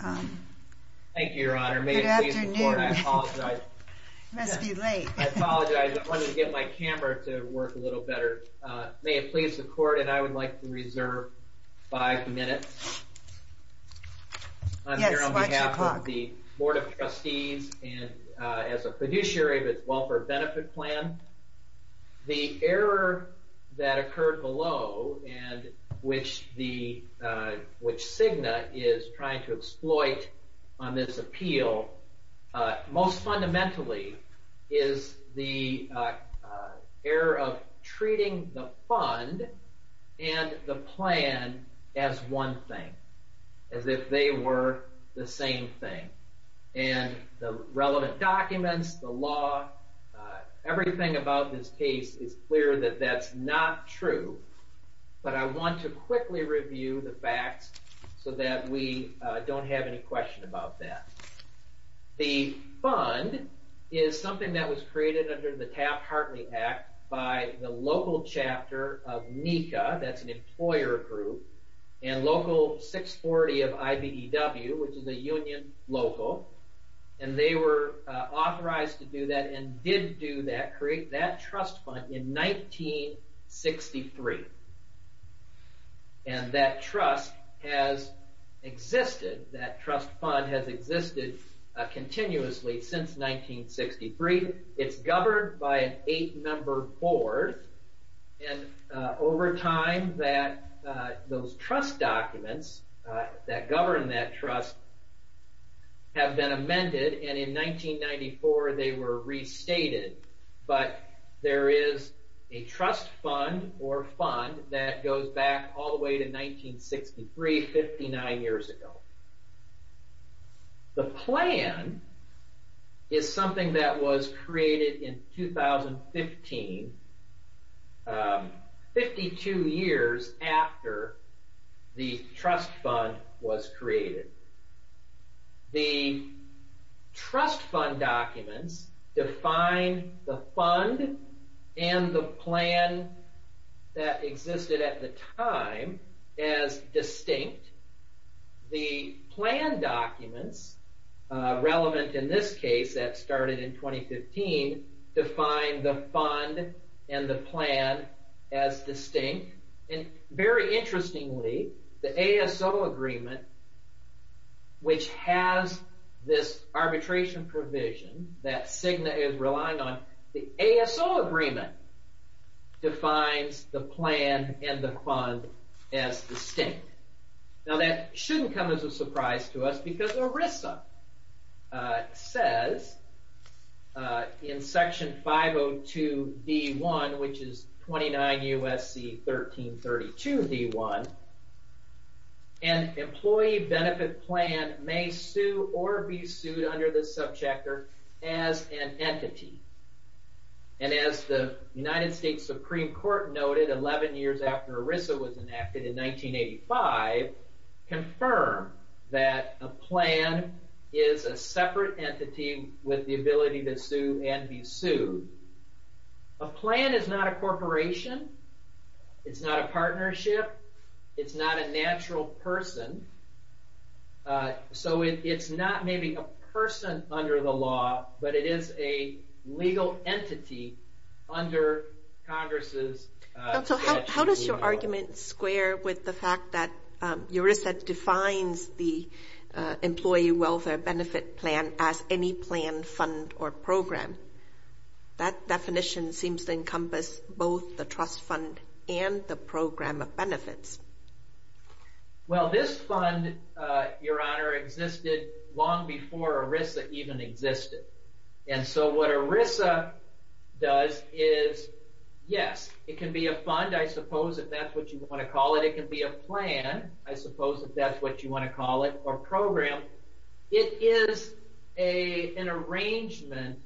Thank you, Your Honor. May it please the Court, and I apologize, I wanted to get my camera to work a little better. May it please the Court, and I would like to reserve five minutes on behalf of the Board of Trustees and as a fiduciary of its welfare benefit plan. The error that occurred below, which Cigna is trying to exploit on this appeal, most fundamentally is the error of treating the fund and the plan as one thing, as if they were the same thing. And the relevant documents, the law, everything about this case is clear that that's not true, but I want to quickly review the facts so that we don't have any question about that. The fund is something that was created under the Taft-Hartley Act by the local chapter of NECA, that's an employer group, and local 640 of IBEW, which is a union local, and they were authorized to do that and did do that, create that trust fund in 1963. And that trust has existed, that trust fund has existed continuously since 1963. It's governed by an eight-member board, and over time those trust documents that govern that trust have been amended, and in 1994 they were restated. But there is a trust fund or fund that goes back all the way to 1963, 59 years ago. The plan is something that was created in 2015, 52 years after the trust fund was created. The trust fund documents define the fund and the plan that existed at the time as distinct. The plan documents, relevant in this case that started in 2015, define the fund and the plan as distinct. And very interestingly, the ASO agreement, which has this arbitration provision that Cigna is relying on, the ASO agreement defines the plan and the fund as distinct. Now that shouldn't come as a surprise to us because ERISA says in Section 502 D.1, which is 29 U.S.C. 1332 D.1, an employee benefit plan may sue or be sued under this subchapter as an entity. And as the United States Supreme Court noted 11 years after ERISA was enacted in 1985, confirmed that a plan is a separate entity with the ability to sue and be sued. A plan is not a corporation. It's not a partnership. It's not a natural person. So it's not maybe a person under the law, but it is a legal entity under Congress' statute. How does your argument square with the fact that ERISA defines the employee welfare benefit plan as any plan, fund, or program? That definition seems to encompass both the trust fund and the program of benefits. Well, this fund, Your Honor, existed long before ERISA even existed. And so what ERISA does is, yes, it can be a fund, I suppose, if that's what you want to call it. It can be a plan, I suppose, if that's what you want to call it, or program. It is an arrangement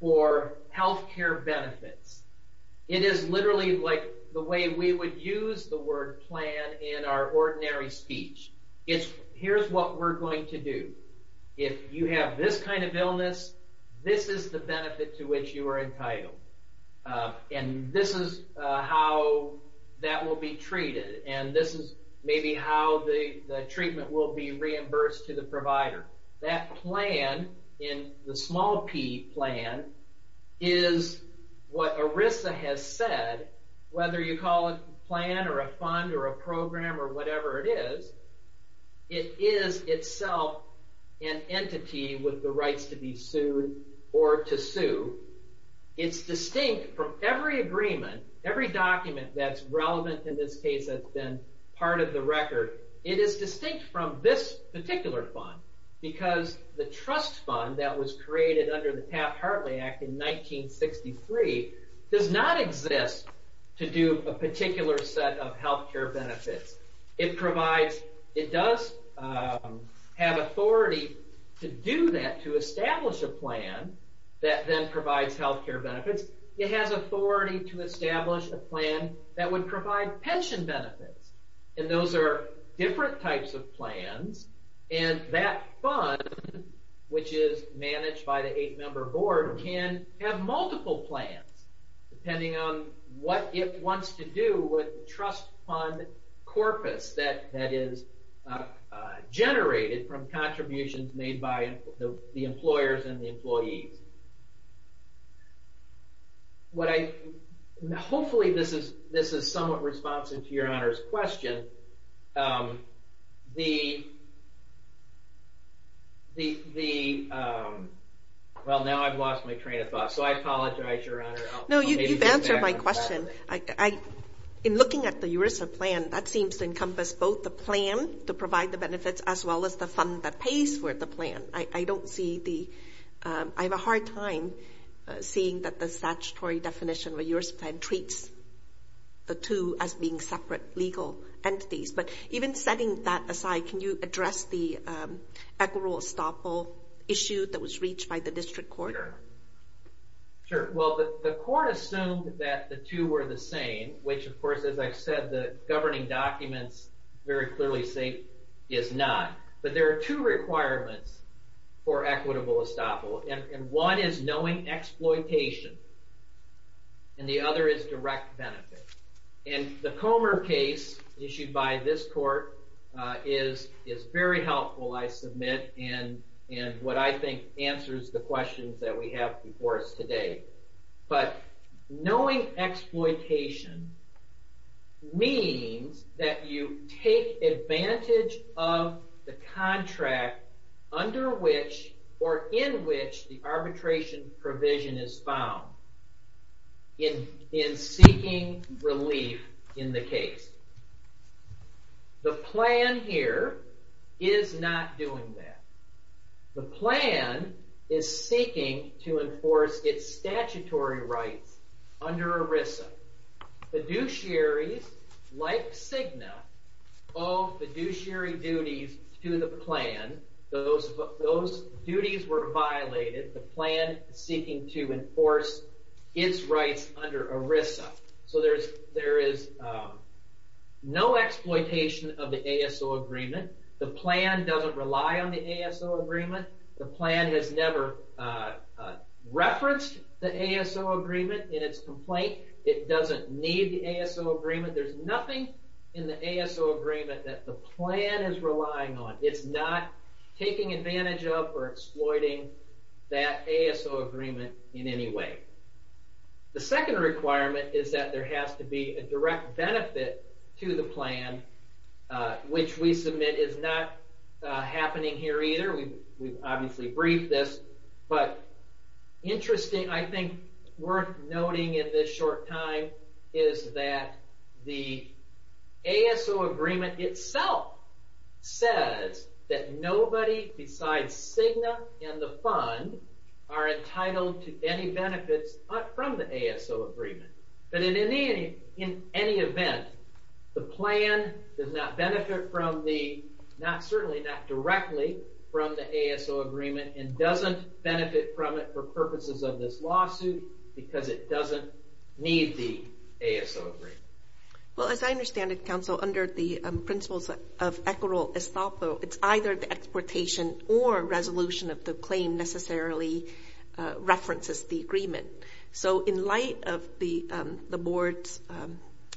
for health care benefits. It is literally like the way we would use the word plan in our ordinary speech. Here's what we're going to do. If you have this kind of illness, this is the benefit to which you are entitled. And this is how that will be treated, and this is maybe how the treatment will be reimbursed to the provider. That plan, the small p plan, is what ERISA has said, whether you call it a plan or a fund or a program or whatever it is. It is itself an entity with the rights to be sued or to sue. It's distinct from every agreement, every document that's relevant in this case that's been part of the record. It is distinct from this particular fund because the trust fund that was created under the Taft-Hartley Act in 1963 does not exist to do a particular set of health care benefits. It does have authority to do that, to establish a plan that then provides health care benefits. It has authority to establish a plan that would provide pension benefits, and those are different types of plans. And that fund, which is managed by the eight-member board, can have multiple plans depending on what it wants to do with the trust fund corpus that is generated from contributions made by the employers and the employees. Hopefully this is somewhat responsive to your Honor's question. Well, now I've lost my train of thought, so I apologize, Your Honor. No, you've answered my question. In looking at the ERISA plan, that seems to encompass both the plan to provide the benefits as well as the fund that pays for the plan. I have a hard time seeing that the statutory definition of the ERISA plan treats the two as being separate legal entities. But even setting that aside, can you address the equitable estoppel issue that was reached by the district court? Sure. Well, the court assumed that the two were the same, which of course, as I've said, the governing documents very clearly state is not. But there are two requirements for equitable estoppel, and one is knowing exploitation, and the other is direct benefit. And the Comer case issued by this court is very helpful, I submit, in what I think answers the questions that we have before us today. But knowing exploitation means that you take advantage of the contract under which or in which the arbitration provision is found in seeking relief in the case. The plan here is not doing that. The plan is seeking to enforce its statutory rights under ERISA. Fiduciaries like Cigna owe fiduciary duties to the plan. Those duties were violated. The plan is seeking to enforce its rights under ERISA. So there is no exploitation of the ASO agreement. The plan doesn't rely on the ASO agreement. The plan has never referenced the ASO agreement in its complaint. It doesn't need the ASO agreement. There's nothing in the ASO agreement that the plan is relying on. It's not taking advantage of or exploiting that ASO agreement in any way. The second requirement is that there has to be a direct benefit to the plan, which we submit is not happening here either. We've obviously briefed this, but interesting, I think, worth noting in this short time is that the ASO agreement itself says that nobody besides Cigna and the fund are entitled to any benefits from the ASO agreement. But in any event, the plan does not benefit from the, certainly not directly from the ASO agreement, and doesn't benefit from it for purposes of this lawsuit because it doesn't need the ASO agreement. Well, as I understand it, counsel, under the principles of equitable estoppel, it's either the exploitation or resolution of the claim necessarily references the agreement. So in light of the board's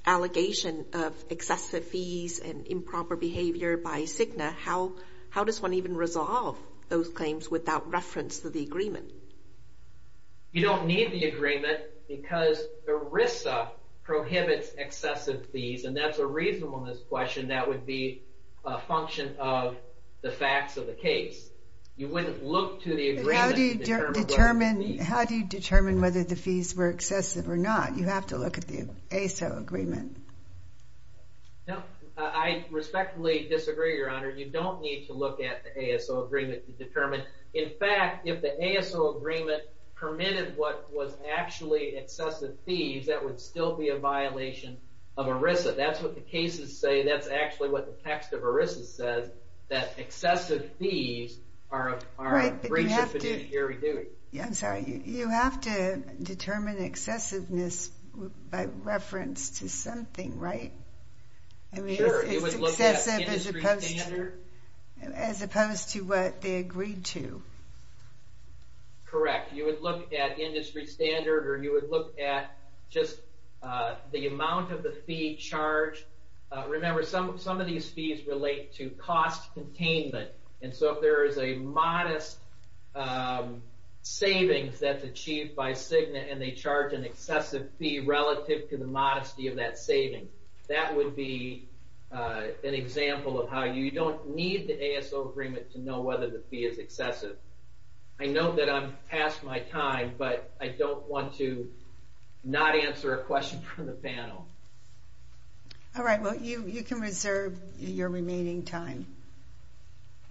allegation of excessive fees and improper behavior by Cigna, how does one even resolve those claims without reference to the agreement? You don't need the agreement because ERISA prohibits excessive fees, and that's a reason on this question that would be a function of the facts of the case. How do you determine whether the fees were excessive or not? You have to look at the ASO agreement. I respectfully disagree, Your Honor. You don't need to look at the ASO agreement to determine. In fact, if the ASO agreement permitted what was actually excessive fees, that would still be a violation of ERISA. That's what the cases say. That's actually what the text of ERISA says, that excessive fees are a breach of fiduciary duty. I'm sorry. You have to determine excessiveness by reference to something, right? It's excessive as opposed to what they agreed to. Correct. You would look at industry standard, or you would look at just the amount of the fee charged. Remember, some of these fees relate to cost containment, and so if there is a modest savings that's achieved by Cigna and they charge an excessive fee relative to the modesty of that saving, that would be an example of how you don't need the ASO agreement to know whether the fee is excessive. I know that I'm past my time, but I don't want to not answer a question from the panel. All right. You can reserve your remaining time.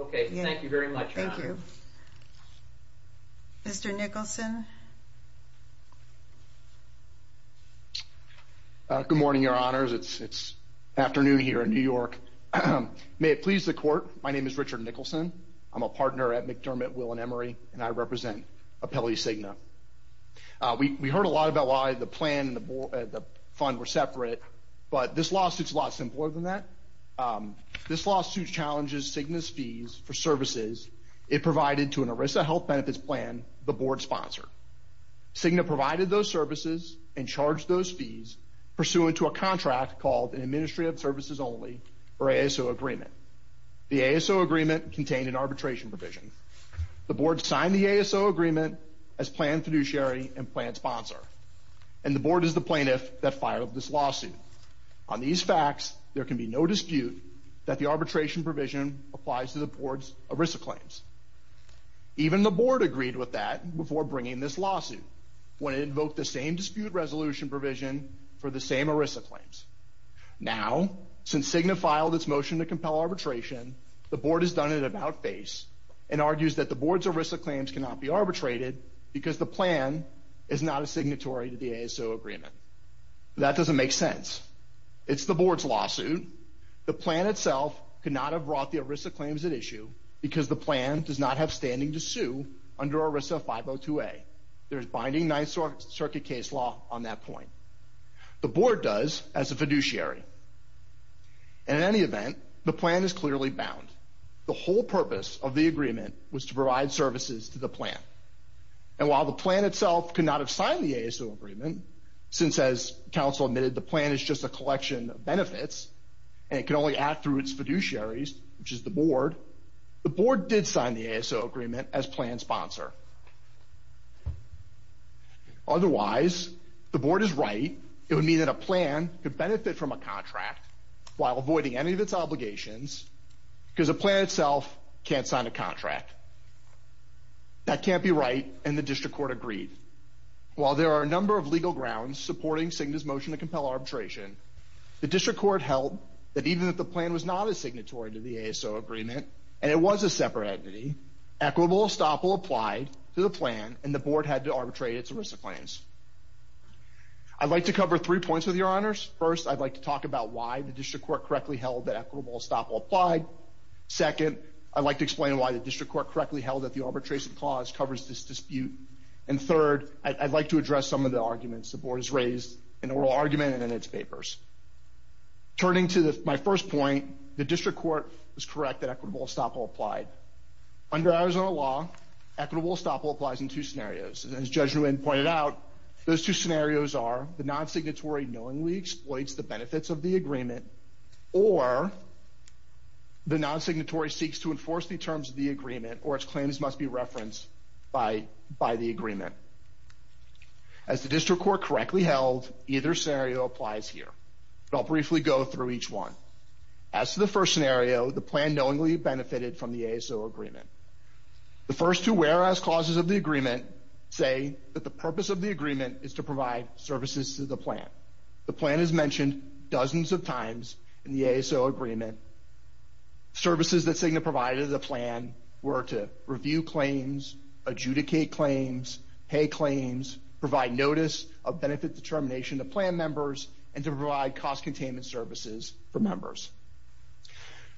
Okay. Thank you very much. Mr. Nicholson? Good morning, Your Honors. It's afternoon here in New York. May it please the Court, my name is Richard Nicholson. I'm a partner at McDermott, Will & Emery, and I represent Apelli Cigna. We heard a lot about why the plan and the fund were separate, but this lawsuit is a lot simpler than that. This lawsuit challenges Cigna's fees for services it provided to an ERISA health benefits plan the Board sponsored. Cigna provided those services and charged those fees pursuant to a contract called an Administrative Services Only, or ASO, agreement. The ASO agreement contained an arbitration provision. The Board signed the ASO agreement as planned fiduciary and planned sponsor, and the Board is the plaintiff that filed this lawsuit. On these facts, there can be no dispute that the arbitration provision applies to the Board's ERISA claims. Even the Board agreed with that before bringing this lawsuit, when it invoked the same dispute resolution provision for the same ERISA claims. Now, since Cigna filed its motion to compel arbitration, the Board has done an about-face and argues that the Board's ERISA claims cannot be arbitrated because the plan is not a signatory to the ASO agreement. That doesn't make sense. It's the Board's lawsuit. The plan itself could not have brought the ERISA claims at issue because the plan does not have standing to sue under ERISA 502A. There's binding Ninth Circuit case law on that point. The Board does, as a fiduciary. And in any event, the plan is clearly bound. The whole purpose of the agreement was to provide services to the plan. And while the plan itself could not have signed the ASO agreement, since, as counsel admitted, the plan is just a collection of benefits, and it can only act through its fiduciaries, which is the Board, the Board did sign the ASO agreement as planned sponsor. Otherwise, the Board is right. It would mean that a plan could benefit from a contract while avoiding any of its obligations because a plan itself can't sign a contract. That can't be right, and the District Court agreed. While there are a number of legal grounds supporting Cigna's motion to compel arbitration, the District Court held that even if the plan was not a signatory to the ASO agreement, and it was a separate entity, equitable estoppel applied to the plan, and the Board had to arbitrate its ERISA claims. I'd like to cover three points with your honors. First, I'd like to talk about why the District Court correctly held that equitable estoppel applied. Second, I'd like to explain why the District Court correctly held that the arbitration clause covers this dispute. And third, I'd like to address some of the arguments the Board has raised in the oral argument and in its papers. Turning to my first point, the District Court was correct that equitable estoppel applied. Under Arizona law, equitable estoppel applies in two scenarios. As Judge Nguyen pointed out, those two scenarios are the non-signatory knowingly exploits the benefits of the agreement, or the non-signatory seeks to enforce the terms of the agreement or its claims must be referenced by the agreement. As the District Court correctly held, either scenario applies here. I'll briefly go through each one. As to the first scenario, the plan knowingly benefited from the ASO agreement. The first two whereas clauses of the agreement say that the purpose of the agreement is to provide services to the plan. The plan is mentioned dozens of times in the ASO agreement. Services that Cigna provided to the plan were to review claims, adjudicate claims, pay claims, provide notice of benefit determination to plan members, and to provide cost containment services for members.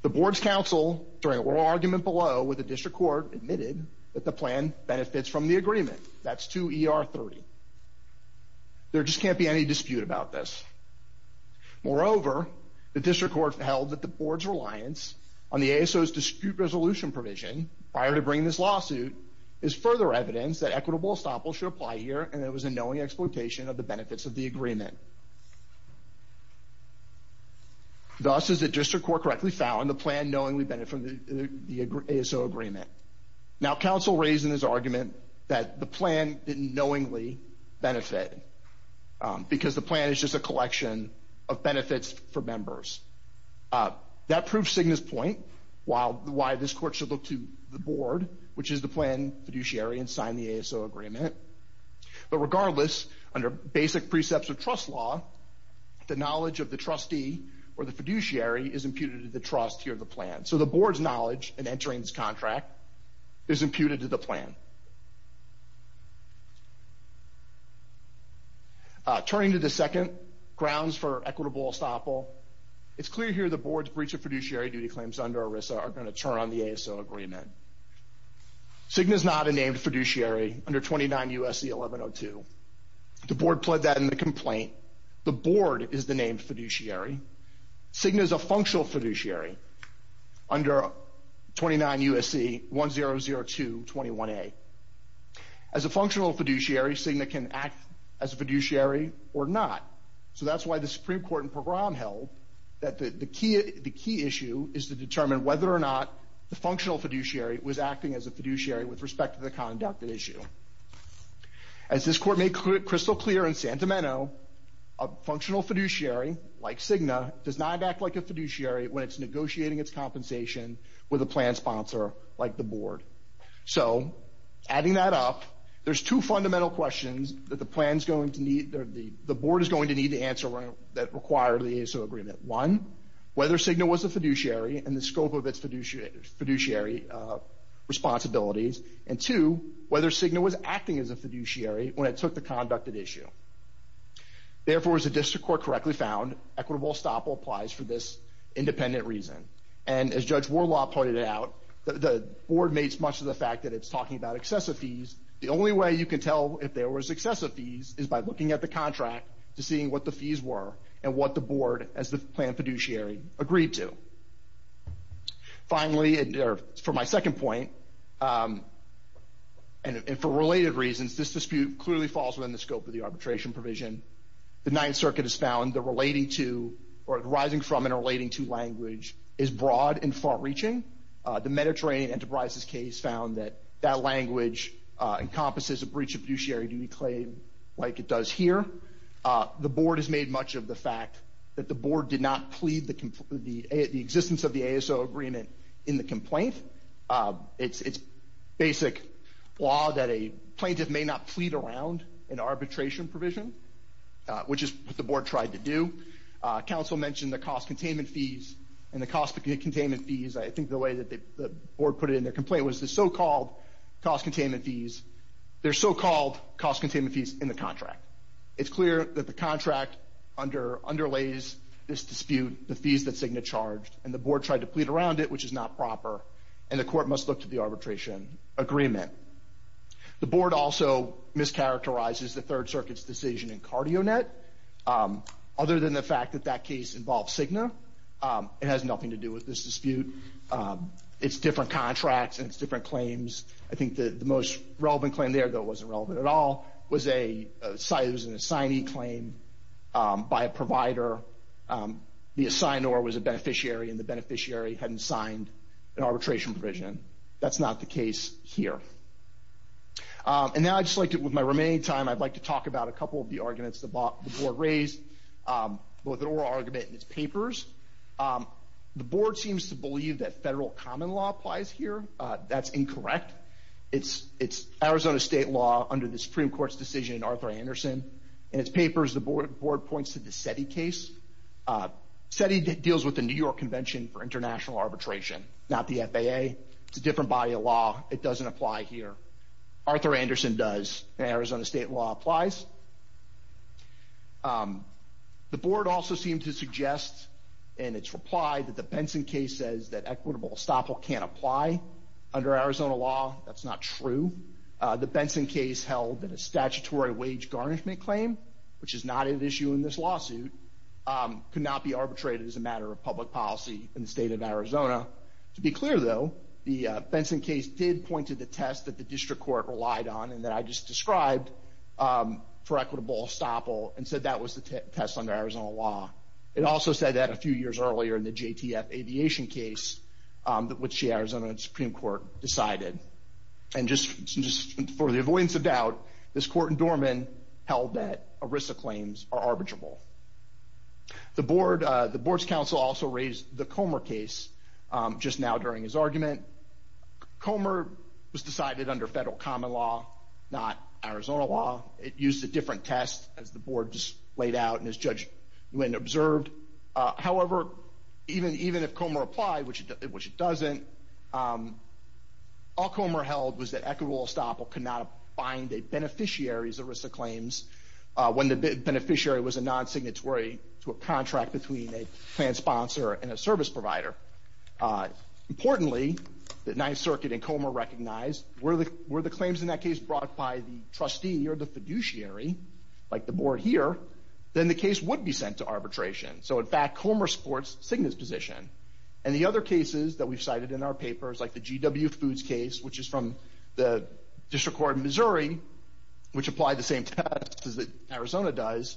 The Board's counsel during oral argument below with the District Court admitted that the plan benefits from the agreement. That's 2 ER 30. There just can't be any dispute about this. Moreover, the District Court held that the Board's reliance on the ASO's dispute resolution provision prior to bringing this lawsuit is further evidence that equitable estoppel should apply here and that it was a knowing exploitation of the benefits of the agreement. Thus, as the District Court correctly found, the plan knowingly benefited from the ASO agreement. Now, counsel raised in his argument that the plan didn't knowingly benefit because the plan is just a collection of benefits for members. That proves Cigna's point while why this court should look to the Board, which is the plan fiduciary, and sign the ASO agreement. But regardless, under basic precepts of trust law, the knowledge of the trustee or the fiduciary is imputed to the trust here of the plan. So the Board's knowledge in entering this contract is imputed to the plan. Turning to the second, grounds for equitable estoppel, it's clear here the Board's breach of fiduciary duty claims under ERISA are going to turn on the ASO agreement. Cigna is not a named fiduciary under 29 U.S.C. 1102. The Board pled that in the complaint. The Board is the named fiduciary. Cigna is a functional fiduciary. Under 29 U.S.C. 1002.21a. As a functional fiduciary, Cigna can act as a fiduciary or not. So that's why the Supreme Court in Pogram held that the key issue is to determine whether or not the functional fiduciary was acting as a fiduciary with respect to the conduct issue. As this Court made crystal clear in Santameno, a functional fiduciary like Cigna does not act like a fiduciary when it's negotiating its compensation with a plan sponsor like the Board. So adding that up, there's two fundamental questions that the Board is going to need to answer that require the ASO agreement. One, whether Cigna was a fiduciary and the scope of its fiduciary responsibilities. And two, whether Cigna was acting as a fiduciary when it took the conducted issue. Therefore, as the District Court correctly found, equitable estoppel applies for this independent reason. And as Judge Warlaw pointed out, the Board makes much of the fact that it's talking about excessive fees. The only way you can tell if there was excessive fees is by looking at the contract to see what the fees were and what the Board as the plan fiduciary agreed to. Finally, for my second point, and for related reasons, this dispute clearly falls within the scope of the arbitration provision. The Ninth Circuit has found that rising from and relating to language is broad and far-reaching. The Mediterranean Enterprises case found that that language encompasses a breach of fiduciary duty claim like it does here. However, the Board has made much of the fact that the Board did not plead the existence of the ASO agreement in the complaint. It's basic law that a plaintiff may not plead around an arbitration provision, which is what the Board tried to do. Council mentioned the cost containment fees and the cost of containment fees. I think the way that the Board put it in their complaint was their so-called cost containment fees in the contract. It's clear that the contract underlays this dispute, the fees that Cigna charged, and the Board tried to plead around it, which is not proper, and the Court must look to the arbitration agreement. The Board also mischaracterizes the Third Circuit's decision in CardioNet. Other than the fact that that case involves Cigna, it has nothing to do with this dispute. It's different contracts and it's different claims. I think the most relevant claim there, though it wasn't relevant at all, was an assignee claim by a provider. The assignee was a beneficiary and the beneficiary hadn't signed an arbitration provision. That's not the case here. And now I'd just like to, with my remaining time, I'd like to talk about a couple of the arguments the Board raised, both an oral argument and its papers. The Board seems to believe that federal common law applies here. That's incorrect. It's Arizona State law under the Supreme Court's decision in Arthur Anderson. In its papers, the Board points to the SETI case. SETI deals with the New York Convention for International Arbitration, not the FAA. It's a different body of law. It doesn't apply here. Arthur Anderson does, and Arizona State law applies. The Board also seemed to suggest in its reply that the Benson case says that equitable estoppel can't apply under Arizona law. That's not true. The Benson case held that a statutory wage garnishment claim, which is not an issue in this lawsuit, could not be arbitrated as a matter of public policy in the state of Arizona. To be clear, though, the Benson case did point to the test that the District Court relied on and that I just described. It called for equitable estoppel and said that was the test under Arizona law. It also said that a few years earlier in the JTF aviation case, which the Arizona Supreme Court decided. And just for the avoidance of doubt, this court in Dorman held that ERISA claims are arbitrable. The Board's counsel also raised the Comer case just now during his argument. Comer was decided under federal common law, not Arizona law. It used a different test as the Board just laid out and as Judge Nguyen observed. However, even if Comer applied, which it doesn't, all Comer held was that equitable estoppel could not bind a beneficiary's ERISA claims when the beneficiary was a non-signatory to a contract between a plan sponsor and a service provider. Importantly, the Ninth Circuit and Comer recognized were the claims in that case brought by the trustee or the fiduciary, like the Board here, then the case would be sent to arbitration. So in fact, Comer supports Cigna's position. And the other cases that we've cited in our papers, like the GW Foods case, which is from the District Court in Missouri, which applied the same test as Arizona does.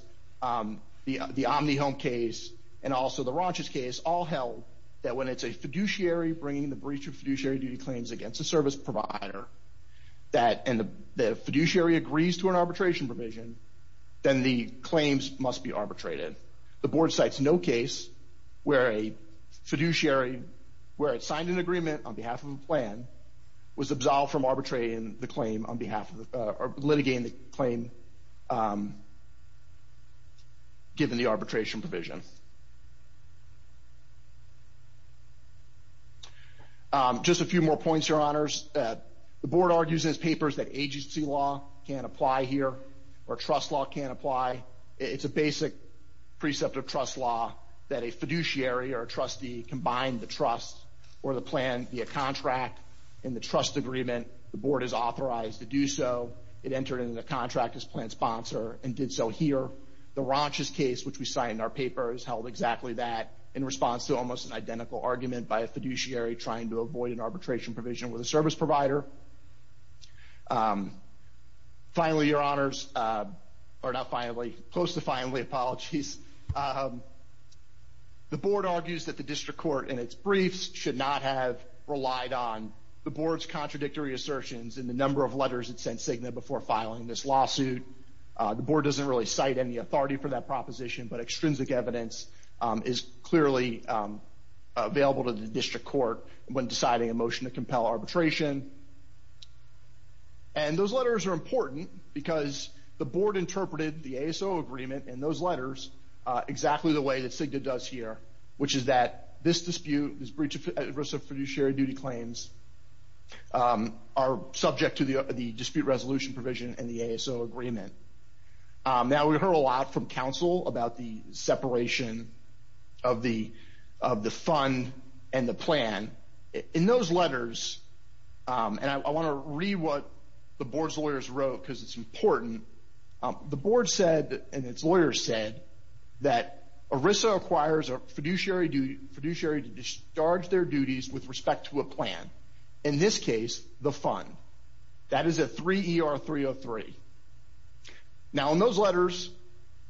The Omni Home case and also the Raunches case all held that when it's a fiduciary bringing the breach of fiduciary duty claims against a service provider, and the fiduciary agrees to an arbitration provision, then the claims must be arbitrated. The Board cites no case where a fiduciary, where it signed an agreement on behalf of a plan, was absolved from litigating the claim given the arbitration provision. Just a few more points, Your Honors. The Board argues in its papers that agency law can't apply here, or trust law can't apply. It's a basic precept of trust law that a fiduciary or a trustee combined the trust or the plan via contract in the trust agreement. The Board is authorized to do so. It entered into the contract as plan sponsor and did so here. The Raunches case, which we cite in our papers, held exactly that in response to almost an identical argument by a fiduciary trying to avoid an arbitration provision with a service provider. Finally, Your Honors, or not finally, close to finally, apologies. The Board argues that the District Court in its briefs should not have relied on the Board's contradictory assertions in the number of letters it sent Cigna before filing this lawsuit. The Board doesn't really cite any authority for that proposition, but extrinsic evidence is clearly available to the District Court when deciding a motion to compel arbitration. And those letters are important because the Board interpreted the ASO agreement in those letters exactly the way that Cigna does here, which is that this dispute, this breach of fiduciary duty claims, are subject to the dispute resolution provision in the ASO agreement. Now, we heard a lot from counsel about the separation of the fund and the plan. In those letters, and I want to read what the Board's lawyers wrote because it's important, the Board said, and its lawyers said, that ERISA acquires a fiduciary to discharge their duties with respect to a plan. In this case, the fund. That is at 3 ER 303. Now, in those letters,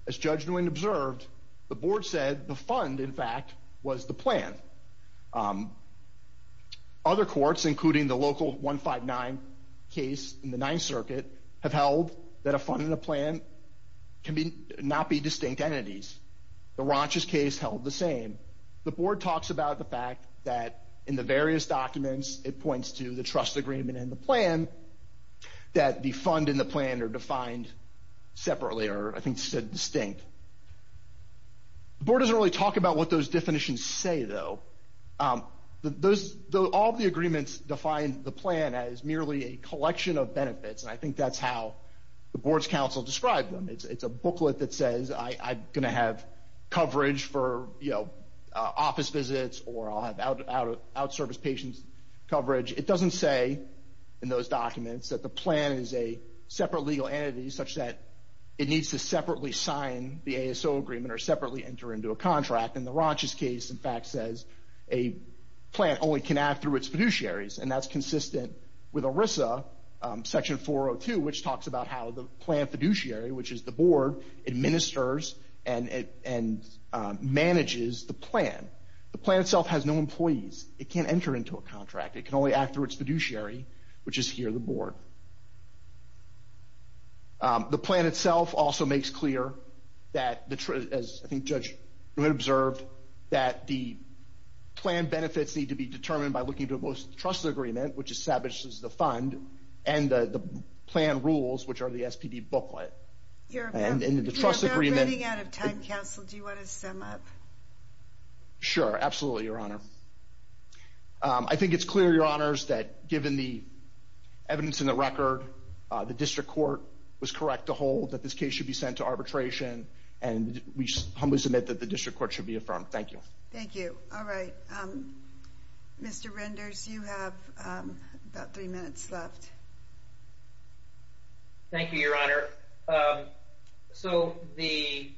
as Judge Nguyen observed, the Board said the fund, in fact, was the plan. Other courts, including the local 159 case in the Ninth Circuit, have held that a fund and a plan cannot be distinct entities. The Ronchus case held the same. The Board talks about the fact that in the various documents, it points to the trust agreement and the plan, that the fund and the plan are defined separately, or I think said distinct. The Board doesn't really talk about what those definitions say, though. All of the agreements define the plan as merely a collection of benefits, and I think that's how the Board's counsel described them. It's a booklet that says, I'm going to have coverage for office visits, or I'll have out-of-service patients' coverage. It doesn't say in those documents that the plan is a separate legal entity, such that it needs to separately sign the ASO agreement or separately enter into a contract. In the Ronchus case, in fact, says a plan only can act through its fiduciaries, and that's consistent with ERISA Section 402, which talks about how the plan fiduciary, which is the Board, administers and manages the plan. The plan itself has no employees. It can't enter into a contract. It can only act through its fiduciary, which is here, the Board. The plan itself also makes clear that, as I think Judge Brunette observed, that the plan benefits need to be determined by looking at both the trust agreement, which establishes the fund, and the plan rules, which are the SPD booklet. And in the trust agreement... You're about running out of time, counsel. Do you want to sum up? Sure, absolutely, Your Honor. I think it's clear, Your Honors, that given the evidence in the record, the district court was correct to hold that this case should be sent to arbitration, and we humbly submit that the district court should be affirmed. Thank you. Thank you. All right. Mr. Renders, you have about three minutes left. Thank you, Your Honor. So the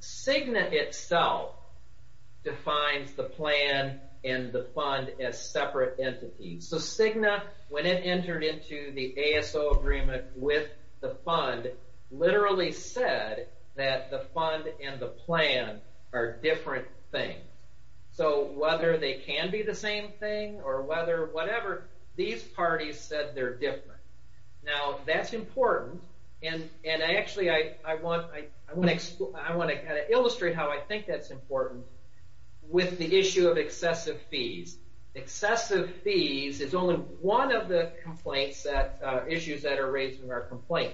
SIGNA itself defines the plan and the fund as separate entities. So SIGNA, when it entered into the ASO agreement with the fund, literally said that the fund and the plan are different things. So whether they can be the same thing, or whether whatever, these parties said they're different. Now, that's important. And actually, I want to illustrate how I think that's important with the issue of excessive fees. Excessive fees is only one of the issues that are raised in our complaint.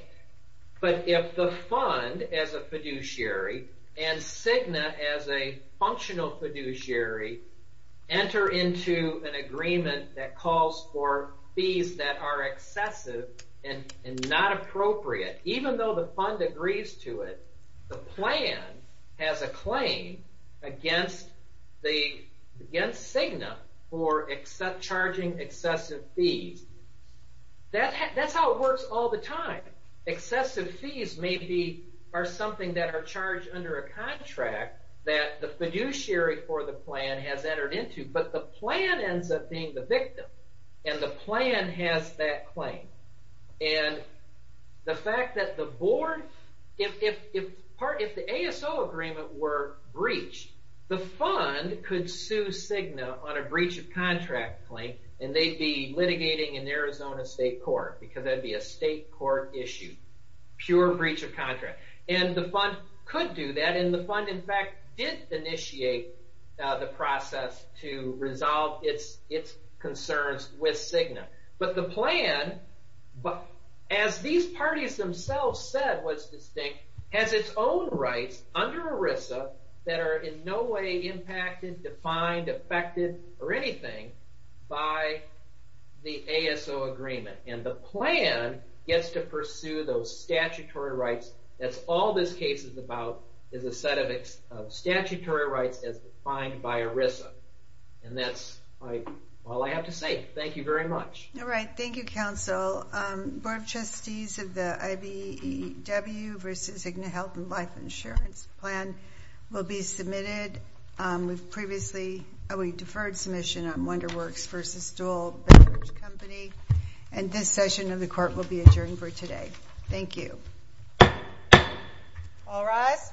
But if the fund as a fiduciary, and SIGNA as a functional fiduciary, enter into an agreement that calls for fees that are excessive and not appropriate, even though the fund agrees to it, the plan has a claim against SIGNA for charging excessive fees. That's how it works all the time. Excessive fees are something that are charged under a contract that the fiduciary for the plan has entered into, but the plan ends up being the victim, and the plan has that claim. And the fact that the board, if the ASO agreement were breached, the fund could sue SIGNA on a breach of contract claim, and they'd be litigating in Arizona State Court, because that'd be a state court issue. Pure breach of contract. And the fund could do that, and the fund, in fact, did initiate the process to resolve its concerns with SIGNA. But the plan, as these parties themselves said was distinct, has its own rights under ERISA that are in no way impacted, defined, affected, or anything by the ASO agreement. And the plan gets to pursue those statutory rights. That's all this case is about, is a set of statutory rights as defined by ERISA. And that's all I have to say. Thank you very much. All right. Thank you, counsel. Board of Trustees of the IBEW versus SIGNA Health and Life Insurance Plan will be submitted. We've previously deferred submission on Wonder Works versus Dole Beverage Company. And this session of the court will be adjourned for today. Thank you. All rise.